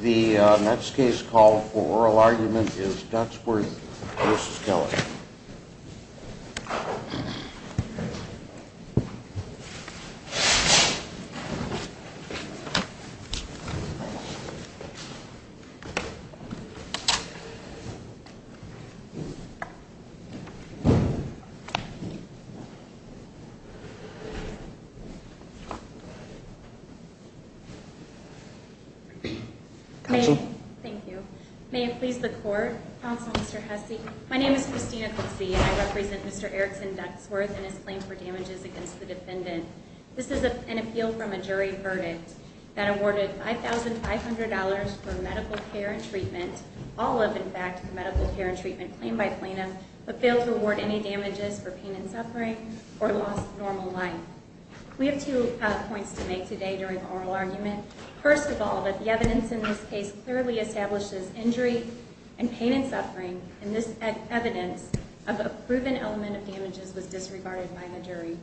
The next case called for oral argument is Ducksworth v. Keller. Thank you. May it please the court. Counsel Mr. Hesse. My name is Christina Coetzee and I represent Mr. Erickson Ducksworth and his claim for damages against the defendant. This is an appeal from a jury verdict that awarded $5,500 for medical care and treatment, all of in fact medical care and treatment claimed by plaintiff, but failed to award any damages for pain and suffering or loss of normal life. We have two points to make today during oral argument. First of all, that the evidence in this case clearly establishes injury and pain and suffering and this evidence of a proven element of damages was disregarded by the jury.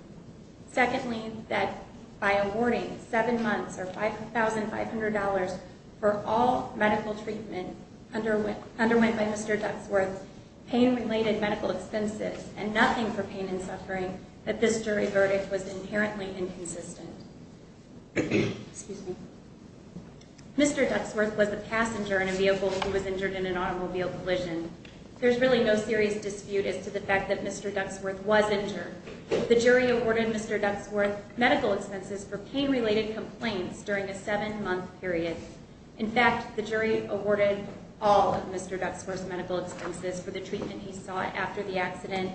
Secondly, that by awarding seven months or $5,500 for all medical treatment underwent by Mr. Ducksworth, pain related medical expenses and nothing for pain and suffering, that this jury verdict was inherently inconsistent. Mr. Ducksworth was a passenger in a vehicle who was injured in an automobile collision. There's really no serious dispute as to the fact that Mr. Ducksworth was injured. The jury awarded Mr. Ducksworth medical expenses for pain related complaints during a seven month period. In fact, the jury awarded all of Mr. Ducksworth's medical expenses for the treatment he sought after the accident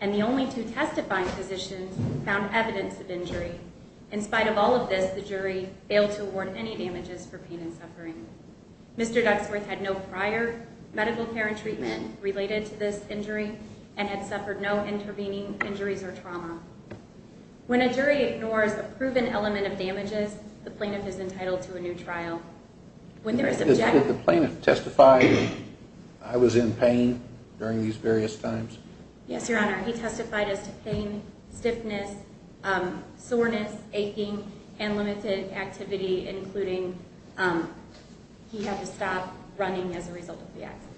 and the only two testifying physicians found evidence of injury. In spite of all of this, the jury failed to award any damages for pain and suffering. Mr. Ducksworth had no prior medical care and treatment related to this injury and had suffered no intervening injuries or trauma. When a jury ignores a proven element of damages, the plaintiff is entitled to a new trial. Did the plaintiff testify that I was in pain during these various times? Yes, Your Honor. He testified as to pain, stiffness, soreness, aching, and limited activity, including he had to stop running as a result of the accident.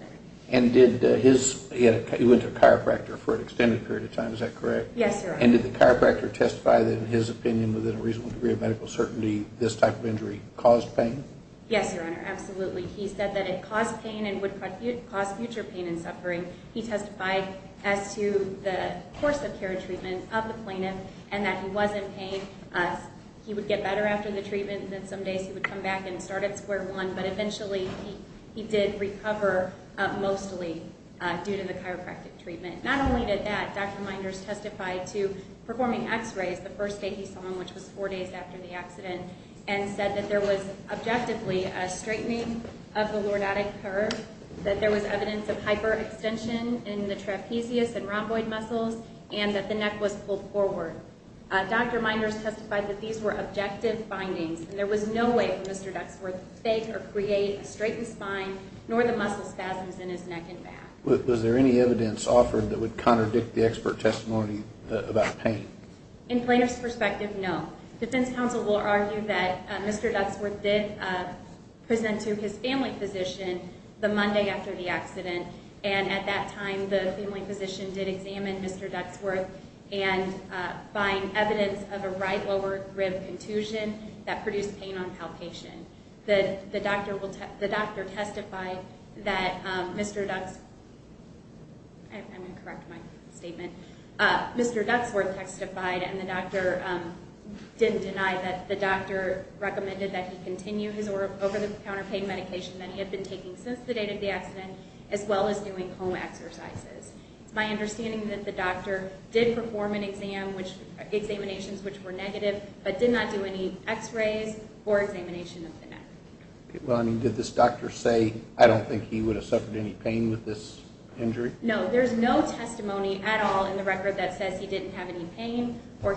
And did his, he went to a chiropractor for an extended period of time, is that correct? Yes, Your Honor. And did the chiropractor testify that in his opinion, within a reasonable degree of medical certainty, this type of injury caused pain? Yes, Your Honor, absolutely. He said that it caused pain and would cause future pain and suffering. He testified as to the course of care and treatment of the plaintiff and that he was in pain. He would get better after the treatment and then some days he would come back and start at square one, but eventually he did recover mostly due to the chiropractic treatment. Not only did that, Dr. Meinders testified to performing x-rays the first day he saw him, which was four days after the accident, and said that there was objectively a straightening of the lordotic curve, that there was evidence of hyperextension in the trapezius and rhomboid muscles, and that the neck was pulled forward. Dr. Meinders testified that these were objective findings and there was no way for Mr. Duxworth to fake or create a straightened spine, nor the muscle spasms in his neck and back. Was there any evidence offered that would contradict the expert testimony about pain? In plaintiff's perspective, no. Defense counsel will argue that Mr. Duxworth did present to his family physician the Monday after the accident, and at that time the family physician did examine Mr. Duxworth and find evidence of a right lower rib contusion that produced pain on palpation. The doctor testified that Mr. Duxworth testified and the doctor didn't deny that. The doctor recommended that he continue his over-the-counter pain medication that he had been taking since the date of the accident, as well as doing home exercises. It's my understanding that the doctor did perform an exam, examinations which were negative, but did not do any x-rays or examination of the neck. Did this doctor say, I don't think he would have suffered any pain with this injury? No, there's no testimony at all in the record that says he didn't have any pain or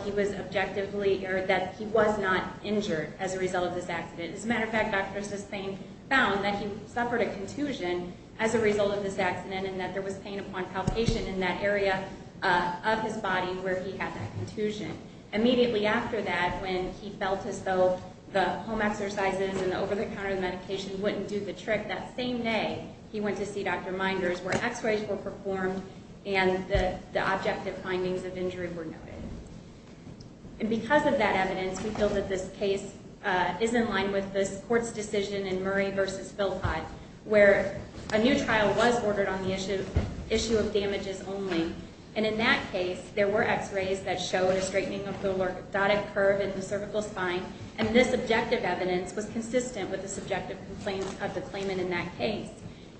that he was not injured as a result of this accident. As a matter of fact, Dr. Suspain found that he suffered a contusion as a result of this accident and that there was pain upon palpation in that area of his body where he had that contusion. Immediately after that, when he felt as though the home exercises and the over-the-counter medication wouldn't do the trick, that same day he went to see Dr. Minders where x-rays were performed and the objective findings of injury were noted. And because of that evidence, we feel that this case is in line with this court's decision in Murray v. Philpott where a new trial was ordered on the issue of damages only. And in that case, there were x-rays that showed a straightening of the lordotic curve in the cervical spine, and this objective evidence was consistent with the subjective complaints of the claimant in that case.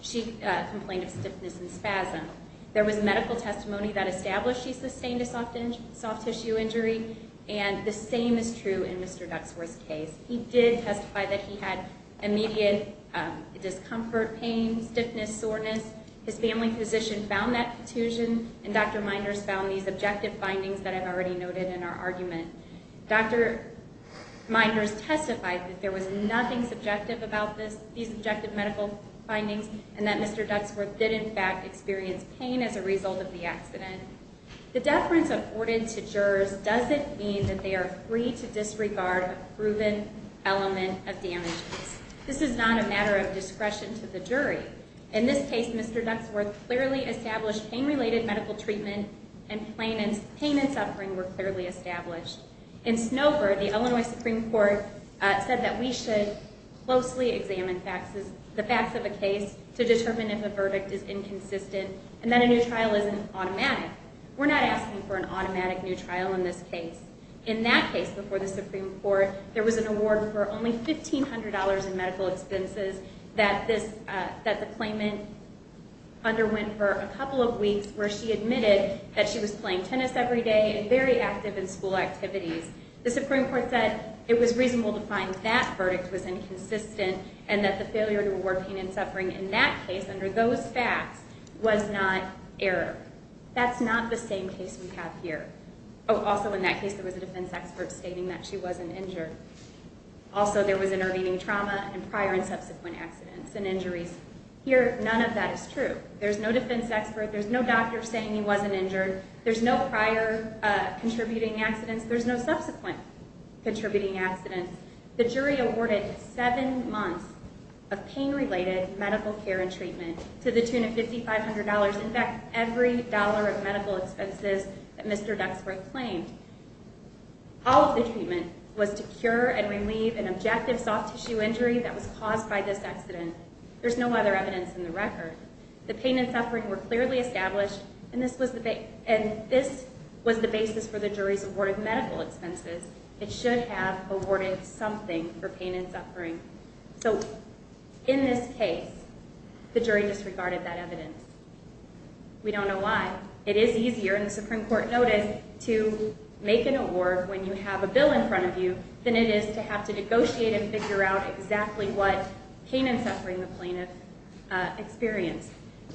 She complained of stiffness and spasm. There was medical testimony that established she sustained a soft tissue injury, and the same is true in Mr. Duxworth's case. He did testify that he had immediate discomfort, pain, stiffness, soreness. His family physician found that contusion, and Dr. Minders found these objective findings that I've already noted in our argument. Dr. Minders testified that there was nothing subjective about these objective medical findings, and that Mr. Duxworth did, in fact, experience pain as a result of the accident. The deference afforded to jurors doesn't mean that they are free to disregard a proven element of damages. This is not a matter of discretion to the jury. In this case, Mr. Duxworth clearly established pain-related medical treatment, and pain and suffering were clearly established. In Snover, the Illinois Supreme Court said that we should closely examine the facts of a case to determine if a verdict is inconsistent, and that a new trial isn't automatic. We're not asking for an automatic new trial in this case. In that case before the Supreme Court, there was an award for only $1,500 in medical expenses that the claimant underwent for a couple of weeks, where she admitted that she was playing tennis every day and very active in school activities. The Supreme Court said it was reasonable to find that verdict was inconsistent, and that the failure to reward pain and suffering in that case under those facts was not error. That's not the same case we have here. Oh, also in that case, there was a defense expert stating that she wasn't injured. Also, there was intervening trauma and prior and subsequent accidents and injuries. Here, none of that is true. There's no defense expert. There's no doctor saying he wasn't injured. There's no prior contributing accidents. There's no subsequent contributing accidents. The jury awarded seven months of pain-related medical care and treatment to the tune of $5,500. In fact, every dollar of medical expenses that Mr. Duxford claimed. All of the treatment was to cure and relieve an objective soft tissue injury that was caused by this accident. There's no other evidence in the record. The pain and suffering were clearly established, and this was the basis for the jury's award of medical expenses. So, in this case, the jury disregarded that evidence. We don't know why. It is easier in the Supreme Court notice to make an award when you have a bill in front of you than it is to have to negotiate and figure out exactly what pain and suffering the plaintiff experienced.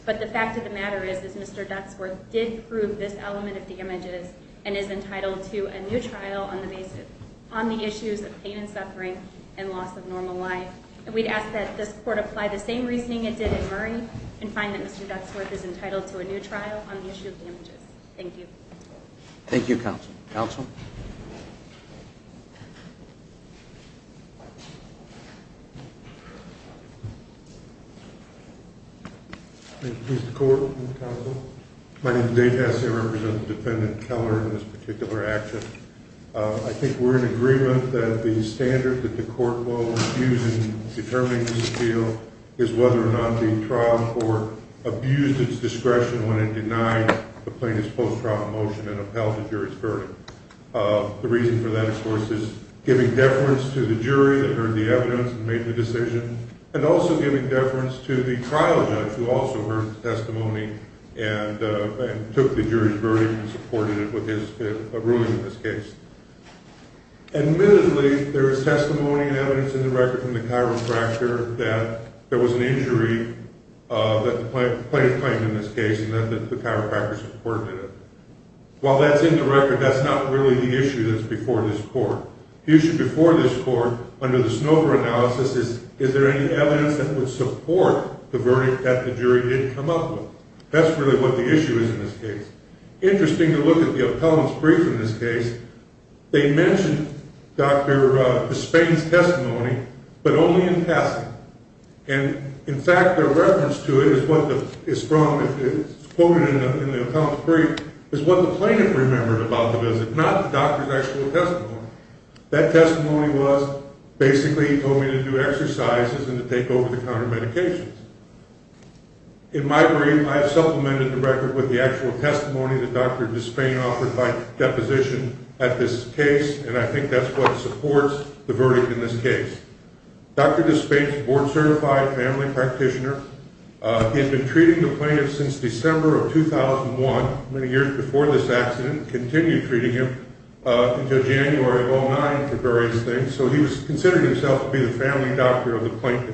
But the fact of the matter is, is Mr. Duxford did prove this element of damages and is entitled to a new trial on the issues of pain and suffering and loss of normal life. We'd ask that this court apply the same reasoning it did in Murray and find that Mr. Duxford is entitled to a new trial on the issue of damages. Thank you. Thank you, counsel. Counsel? Thank you, Mr. Court and counsel. My name is Dave Hess. I represent Defendant Keller in this particular action. I think we're in agreement that the standard that the court will use in determining this appeal is whether or not the trial court abused its discretion when it denied the plaintiff's post-trial motion and upheld the jury's verdict. The reason for that, of course, is giving deference to the jury that heard the evidence and made the decision and also giving deference to the trial judge who also heard the testimony and took the jury's verdict and supported it with his ruling in this case. Admittedly, there is testimony and evidence in the record from the chiropractor that there was an injury that the plaintiff claimed in this case and that the chiropractor supported it. While that's in the record, that's not really the issue that's before this court. The issue before this court under the Snover analysis is, is there any evidence that would support the verdict that the jury didn't come up with? That's really what the issue is in this case. Interesting to look at the appellant's brief in this case, they mentioned Dr. Hespain's testimony, but only in passing. And, in fact, their reference to it is what is from, it's quoted in the appellant's brief, is what the plaintiff remembered about the visit, but not the doctor's actual testimony. That testimony was, basically, he told me to do exercises and to take over-the-counter medications. In my brief, I have supplemented the record with the actual testimony that Dr. Hespain offered by deposition at this case, and I think that's what supports the verdict in this case. Dr. Hespain is a board-certified family practitioner. He has been treating the plaintiff since December of 2001, many years before this accident, and continued treating him until January of 2009 for various things, so he considered himself to be the family doctor of the plaintiff.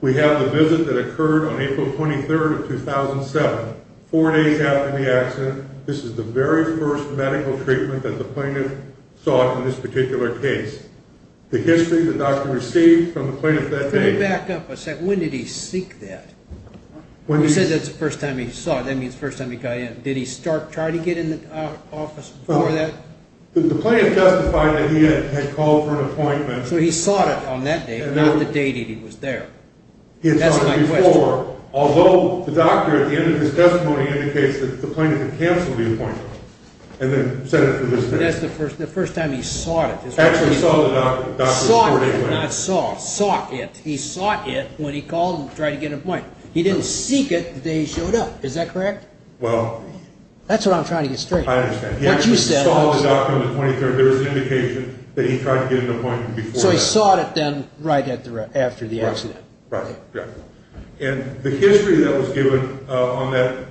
We have the visit that occurred on April 23rd of 2007, four days after the accident. This is the very first medical treatment that the plaintiff sought in this particular case. The history the doctor received from the plaintiff that day- Can you back up a second? When did he seek that? You said that's the first time he saw it. That means the first time he got in. Did he try to get in the office before that? The plaintiff justified that he had called for an appointment. So he sought it on that day, not the day that he was there. He had sought it before, although the doctor, at the end of his testimony, indicates that the plaintiff had canceled the appointment and then sent it for this day. That's the first time he sought it. Actually saw the doctor. Sought it, not saw. Sought it. He sought it when he called to try to get an appointment. He didn't seek it the day he showed up. Is that correct? Well- That's what I'm trying to get straight. I understand. What you said- He sought the doctor on the 23rd. There is an indication that he tried to get an appointment before that. So he sought it then right after the accident. Right. And the history that was given on that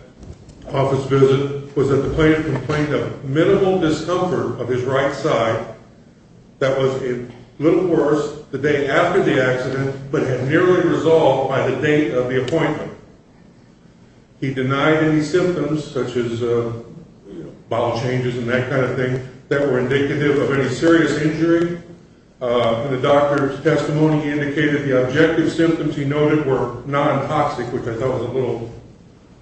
office visit was that the plaintiff complained of minimal discomfort of his right side that was a little worse the day after the accident, but had nearly resolved by the date of the appointment. He denied any symptoms, such as bowel changes and that kind of thing, that were indicative of any serious injury. In the doctor's testimony, he indicated the objective symptoms he noted were non-toxic, which I thought was a little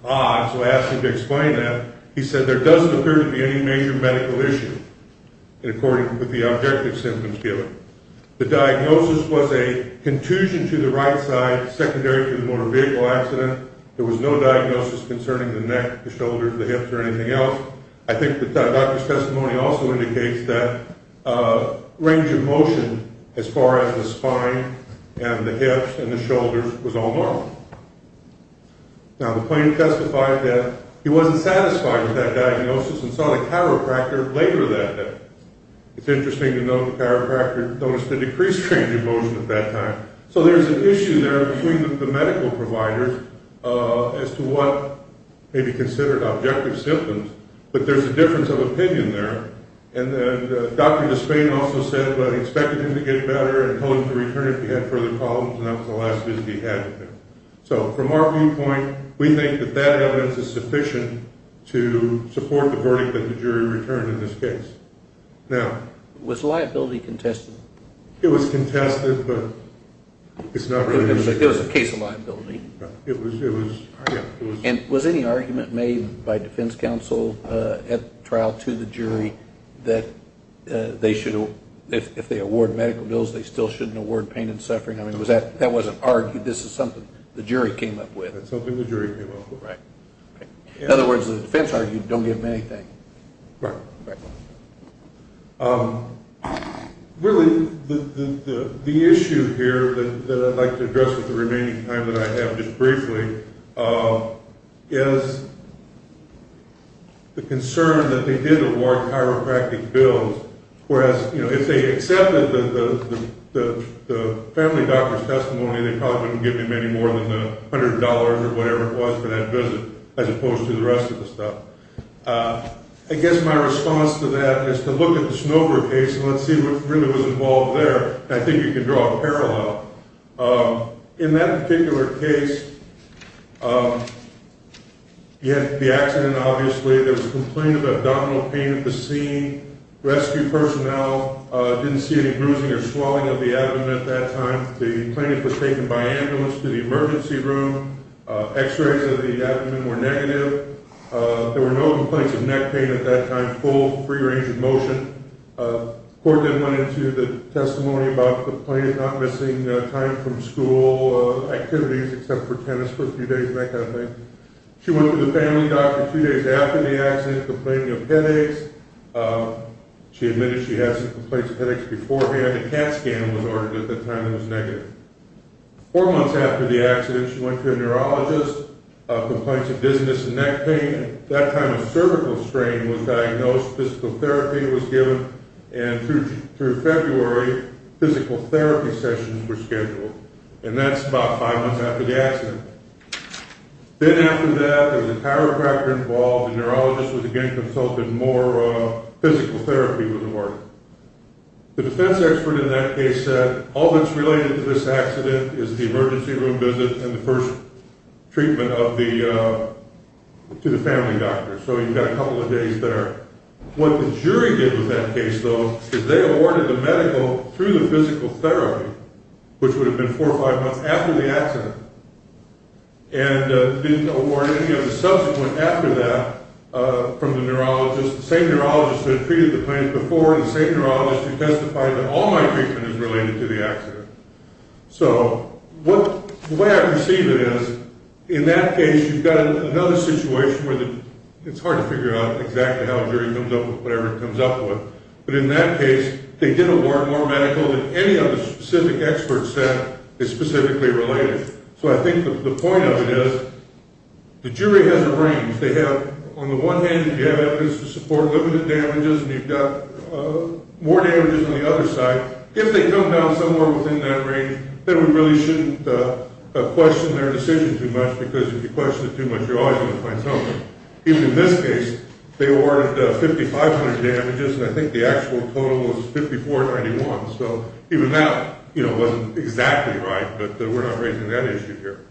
odd, so I asked him to explain that. He said there doesn't appear to be any major medical issue, according to the objective symptoms given. The diagnosis was a contusion to the right side, secondary to the motor vehicle accident. There was no diagnosis concerning the neck, the shoulders, the hips, or anything else. I think the doctor's testimony also indicates that range of motion as far as the spine and the hips and the shoulders was all normal. Now, the plaintiff testified that he wasn't satisfied with that diagnosis and saw the chiropractor later that day. It's interesting to note the chiropractor noticed a decreased range of motion at that time. So there's an issue there between the medical providers as to what may be considered objective symptoms, but there's a difference of opinion there. And then Dr. Despain also said that he expected him to get better and told him to return if he had further problems, and that was the last visit he had with him. So from our viewpoint, we think that that evidence is sufficient to support the verdict that the jury returned in this case. Now... Was liability contested? It was contested, but it's not really... It was a case of liability. It was, yeah. And was any argument made by defense counsel at trial to the jury that they should, if they award medical bills, they still shouldn't award pain and suffering? I mean, that wasn't argued. This is something the jury came up with. That's something the jury came up with. Right. In other words, the defense argued, don't give them anything. Right. Right. Really, the issue here that I'd like to address with the remaining time that I have just briefly is the concern that they did award chiropractic bills, whereas if they accepted the family doctor's testimony, they probably wouldn't give him any more than $100 or whatever it was for that visit, as opposed to the rest of the stuff. I guess my response to that is to look at the Snover case, and let's see what really was involved there, and I think you can draw a parallel. In that particular case, you had the accident, obviously. There was a complaint of abdominal pain at the scene. Rescue personnel didn't see any bruising or swelling of the abdomen at that time. The plaintiff was taken by ambulance to the emergency room. X-rays of the abdomen were negative. There were no complaints of neck pain at that time, full free range of motion. The court then went into the testimony about the plaintiff not missing time from school activities except for tennis for a few days and that kind of thing. She went to the family doctor two days after the accident, complaining of headaches. She admitted she had some complaints of headaches beforehand. A CAT scan was ordered at that time, and it was negative. Four months after the accident, she went to a neurologist, complaints of dizziness and neck pain. At that time, a cervical strain was diagnosed, physical therapy was given, and through February, physical therapy sessions were scheduled, and that's about five months after the accident. Then after that, there was a chiropractor involved. The neurologist was again consulted. More physical therapy was awarded. The defense expert in that case said, all that's related to this accident is the emergency room visit and the first treatment to the family doctor. So you've got a couple of days there. What the jury did with that case, though, is they awarded the medical through the physical therapy, which would have been four or five months after the accident, and didn't award any of the subsequent after that from the neurologist, the same neurologist that treated the plaintiff before, the same neurologist who testified that all my treatment is related to the accident. So the way I perceive it is, in that case, you've got another situation where it's hard to figure out exactly how a jury comes up with whatever it comes up with, but in that case, they did award more medical than any other specific expert said is specifically related. So I think the point of it is the jury has a range. They have, on the one hand, if you have evidence to support limited damages and you've got more damages on the other side, if they come down somewhere within that range, then we really shouldn't question their decision too much, because if you question it too much, you're always going to find something. Even in this case, they awarded 5,500 damages, and I think the actual total was 5,491. So even that wasn't exactly right, but we're not raising that issue here.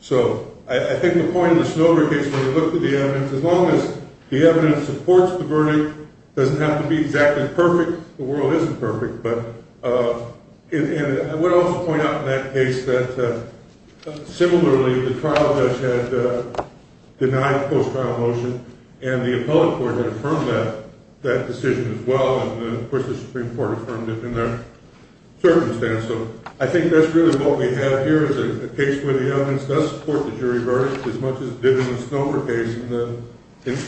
So I think the point of the Snowder case, when you look at the evidence, as long as the evidence supports the verdict, it doesn't have to be exactly perfect. The world isn't perfect. But I would also point out in that case that, similarly, the trial judge had denied post-trial motion, and the appellate court had affirmed that decision as well, and, of course, the Supreme Court affirmed it in their circumstance. So I think that's really what we have here, is a case where the evidence does support the jury verdict as much as it did in the Snowder case. And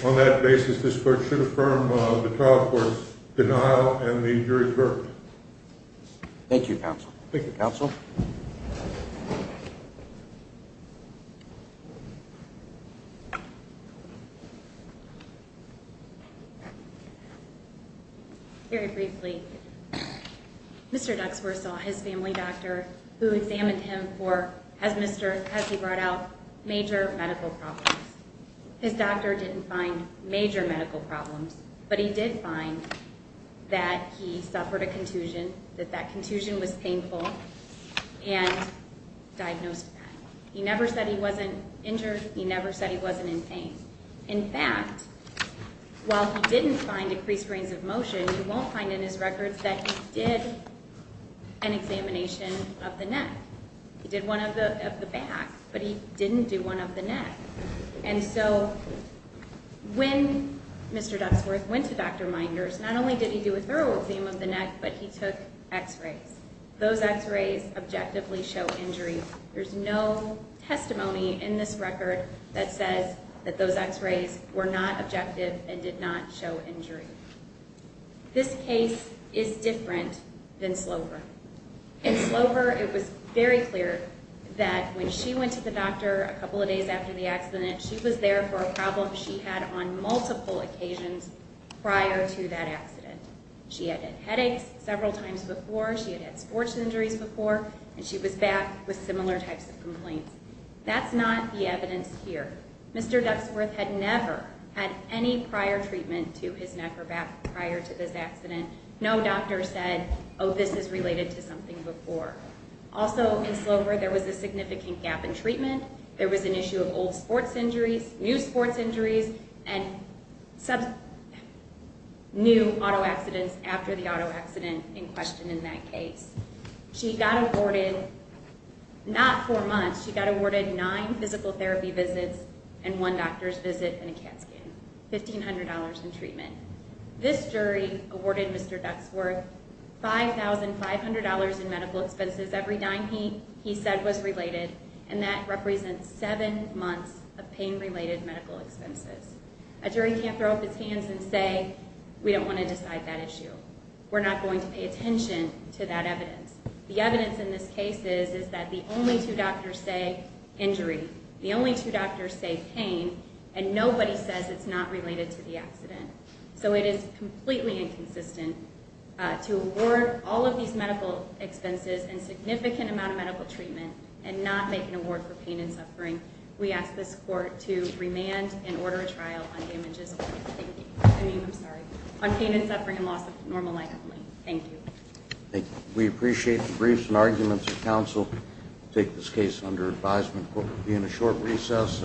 on that basis, this court should affirm the trial court's denial Thank you, counsel. Thank you, counsel. Very briefly, Mr. Duxworth saw his family doctor, who examined him for, as he brought out, major medical problems. His doctor didn't find major medical problems, but he did find that he suffered a contusion, that that contusion was painful, and diagnosed that. He never said he wasn't injured. He never said he wasn't in pain. In fact, while he didn't find decreased range of motion, you won't find in his records that he did an examination of the neck. He did one of the back, but he didn't do one of the neck. And so when Mr. Duxworth went to Dr. Minder's, not only did he do a thorough exam of the neck, but he took x-rays. Those x-rays objectively show injury. There's no testimony in this record that says that those x-rays were not objective and did not show injury. This case is different than Slover. In Slover, it was very clear that when she went to the doctor a couple of days after the accident, she was there for a problem she had on multiple occasions prior to that accident. She had had headaches several times before. She had had sports injuries before. And she was back with similar types of complaints. That's not the evidence here. Mr. Duxworth had never had any prior treatment to his neck or back prior to this accident. No doctor said, oh, this is related to something before. Also, in Slover, there was a significant gap in treatment. There was an issue of old sports injuries, new sports injuries, and new auto accidents after the auto accident in question in that case. She got awarded not four months. She got awarded nine physical therapy visits and one doctor's visit and a CAT scan, $1,500 in treatment. This jury awarded Mr. Duxworth $5,500 in medical expenses every dime he said was related, and that represents seven months of pain-related medical expenses. A jury can't throw up its hands and say we don't want to decide that issue. We're not going to pay attention to that evidence. The evidence in this case is that the only two doctors say injury, the only two doctors say pain, and nobody says it's not related to the accident. So it is completely inconsistent to award all of these medical expenses and significant amount of medical treatment and not make an award for pain and suffering. We ask this court to remand and order a trial on damages on pain and suffering and loss of normal life only. Thank you. We appreciate the briefs and arguments of counsel. We'll take this case under advisement. We'll be in a short recess.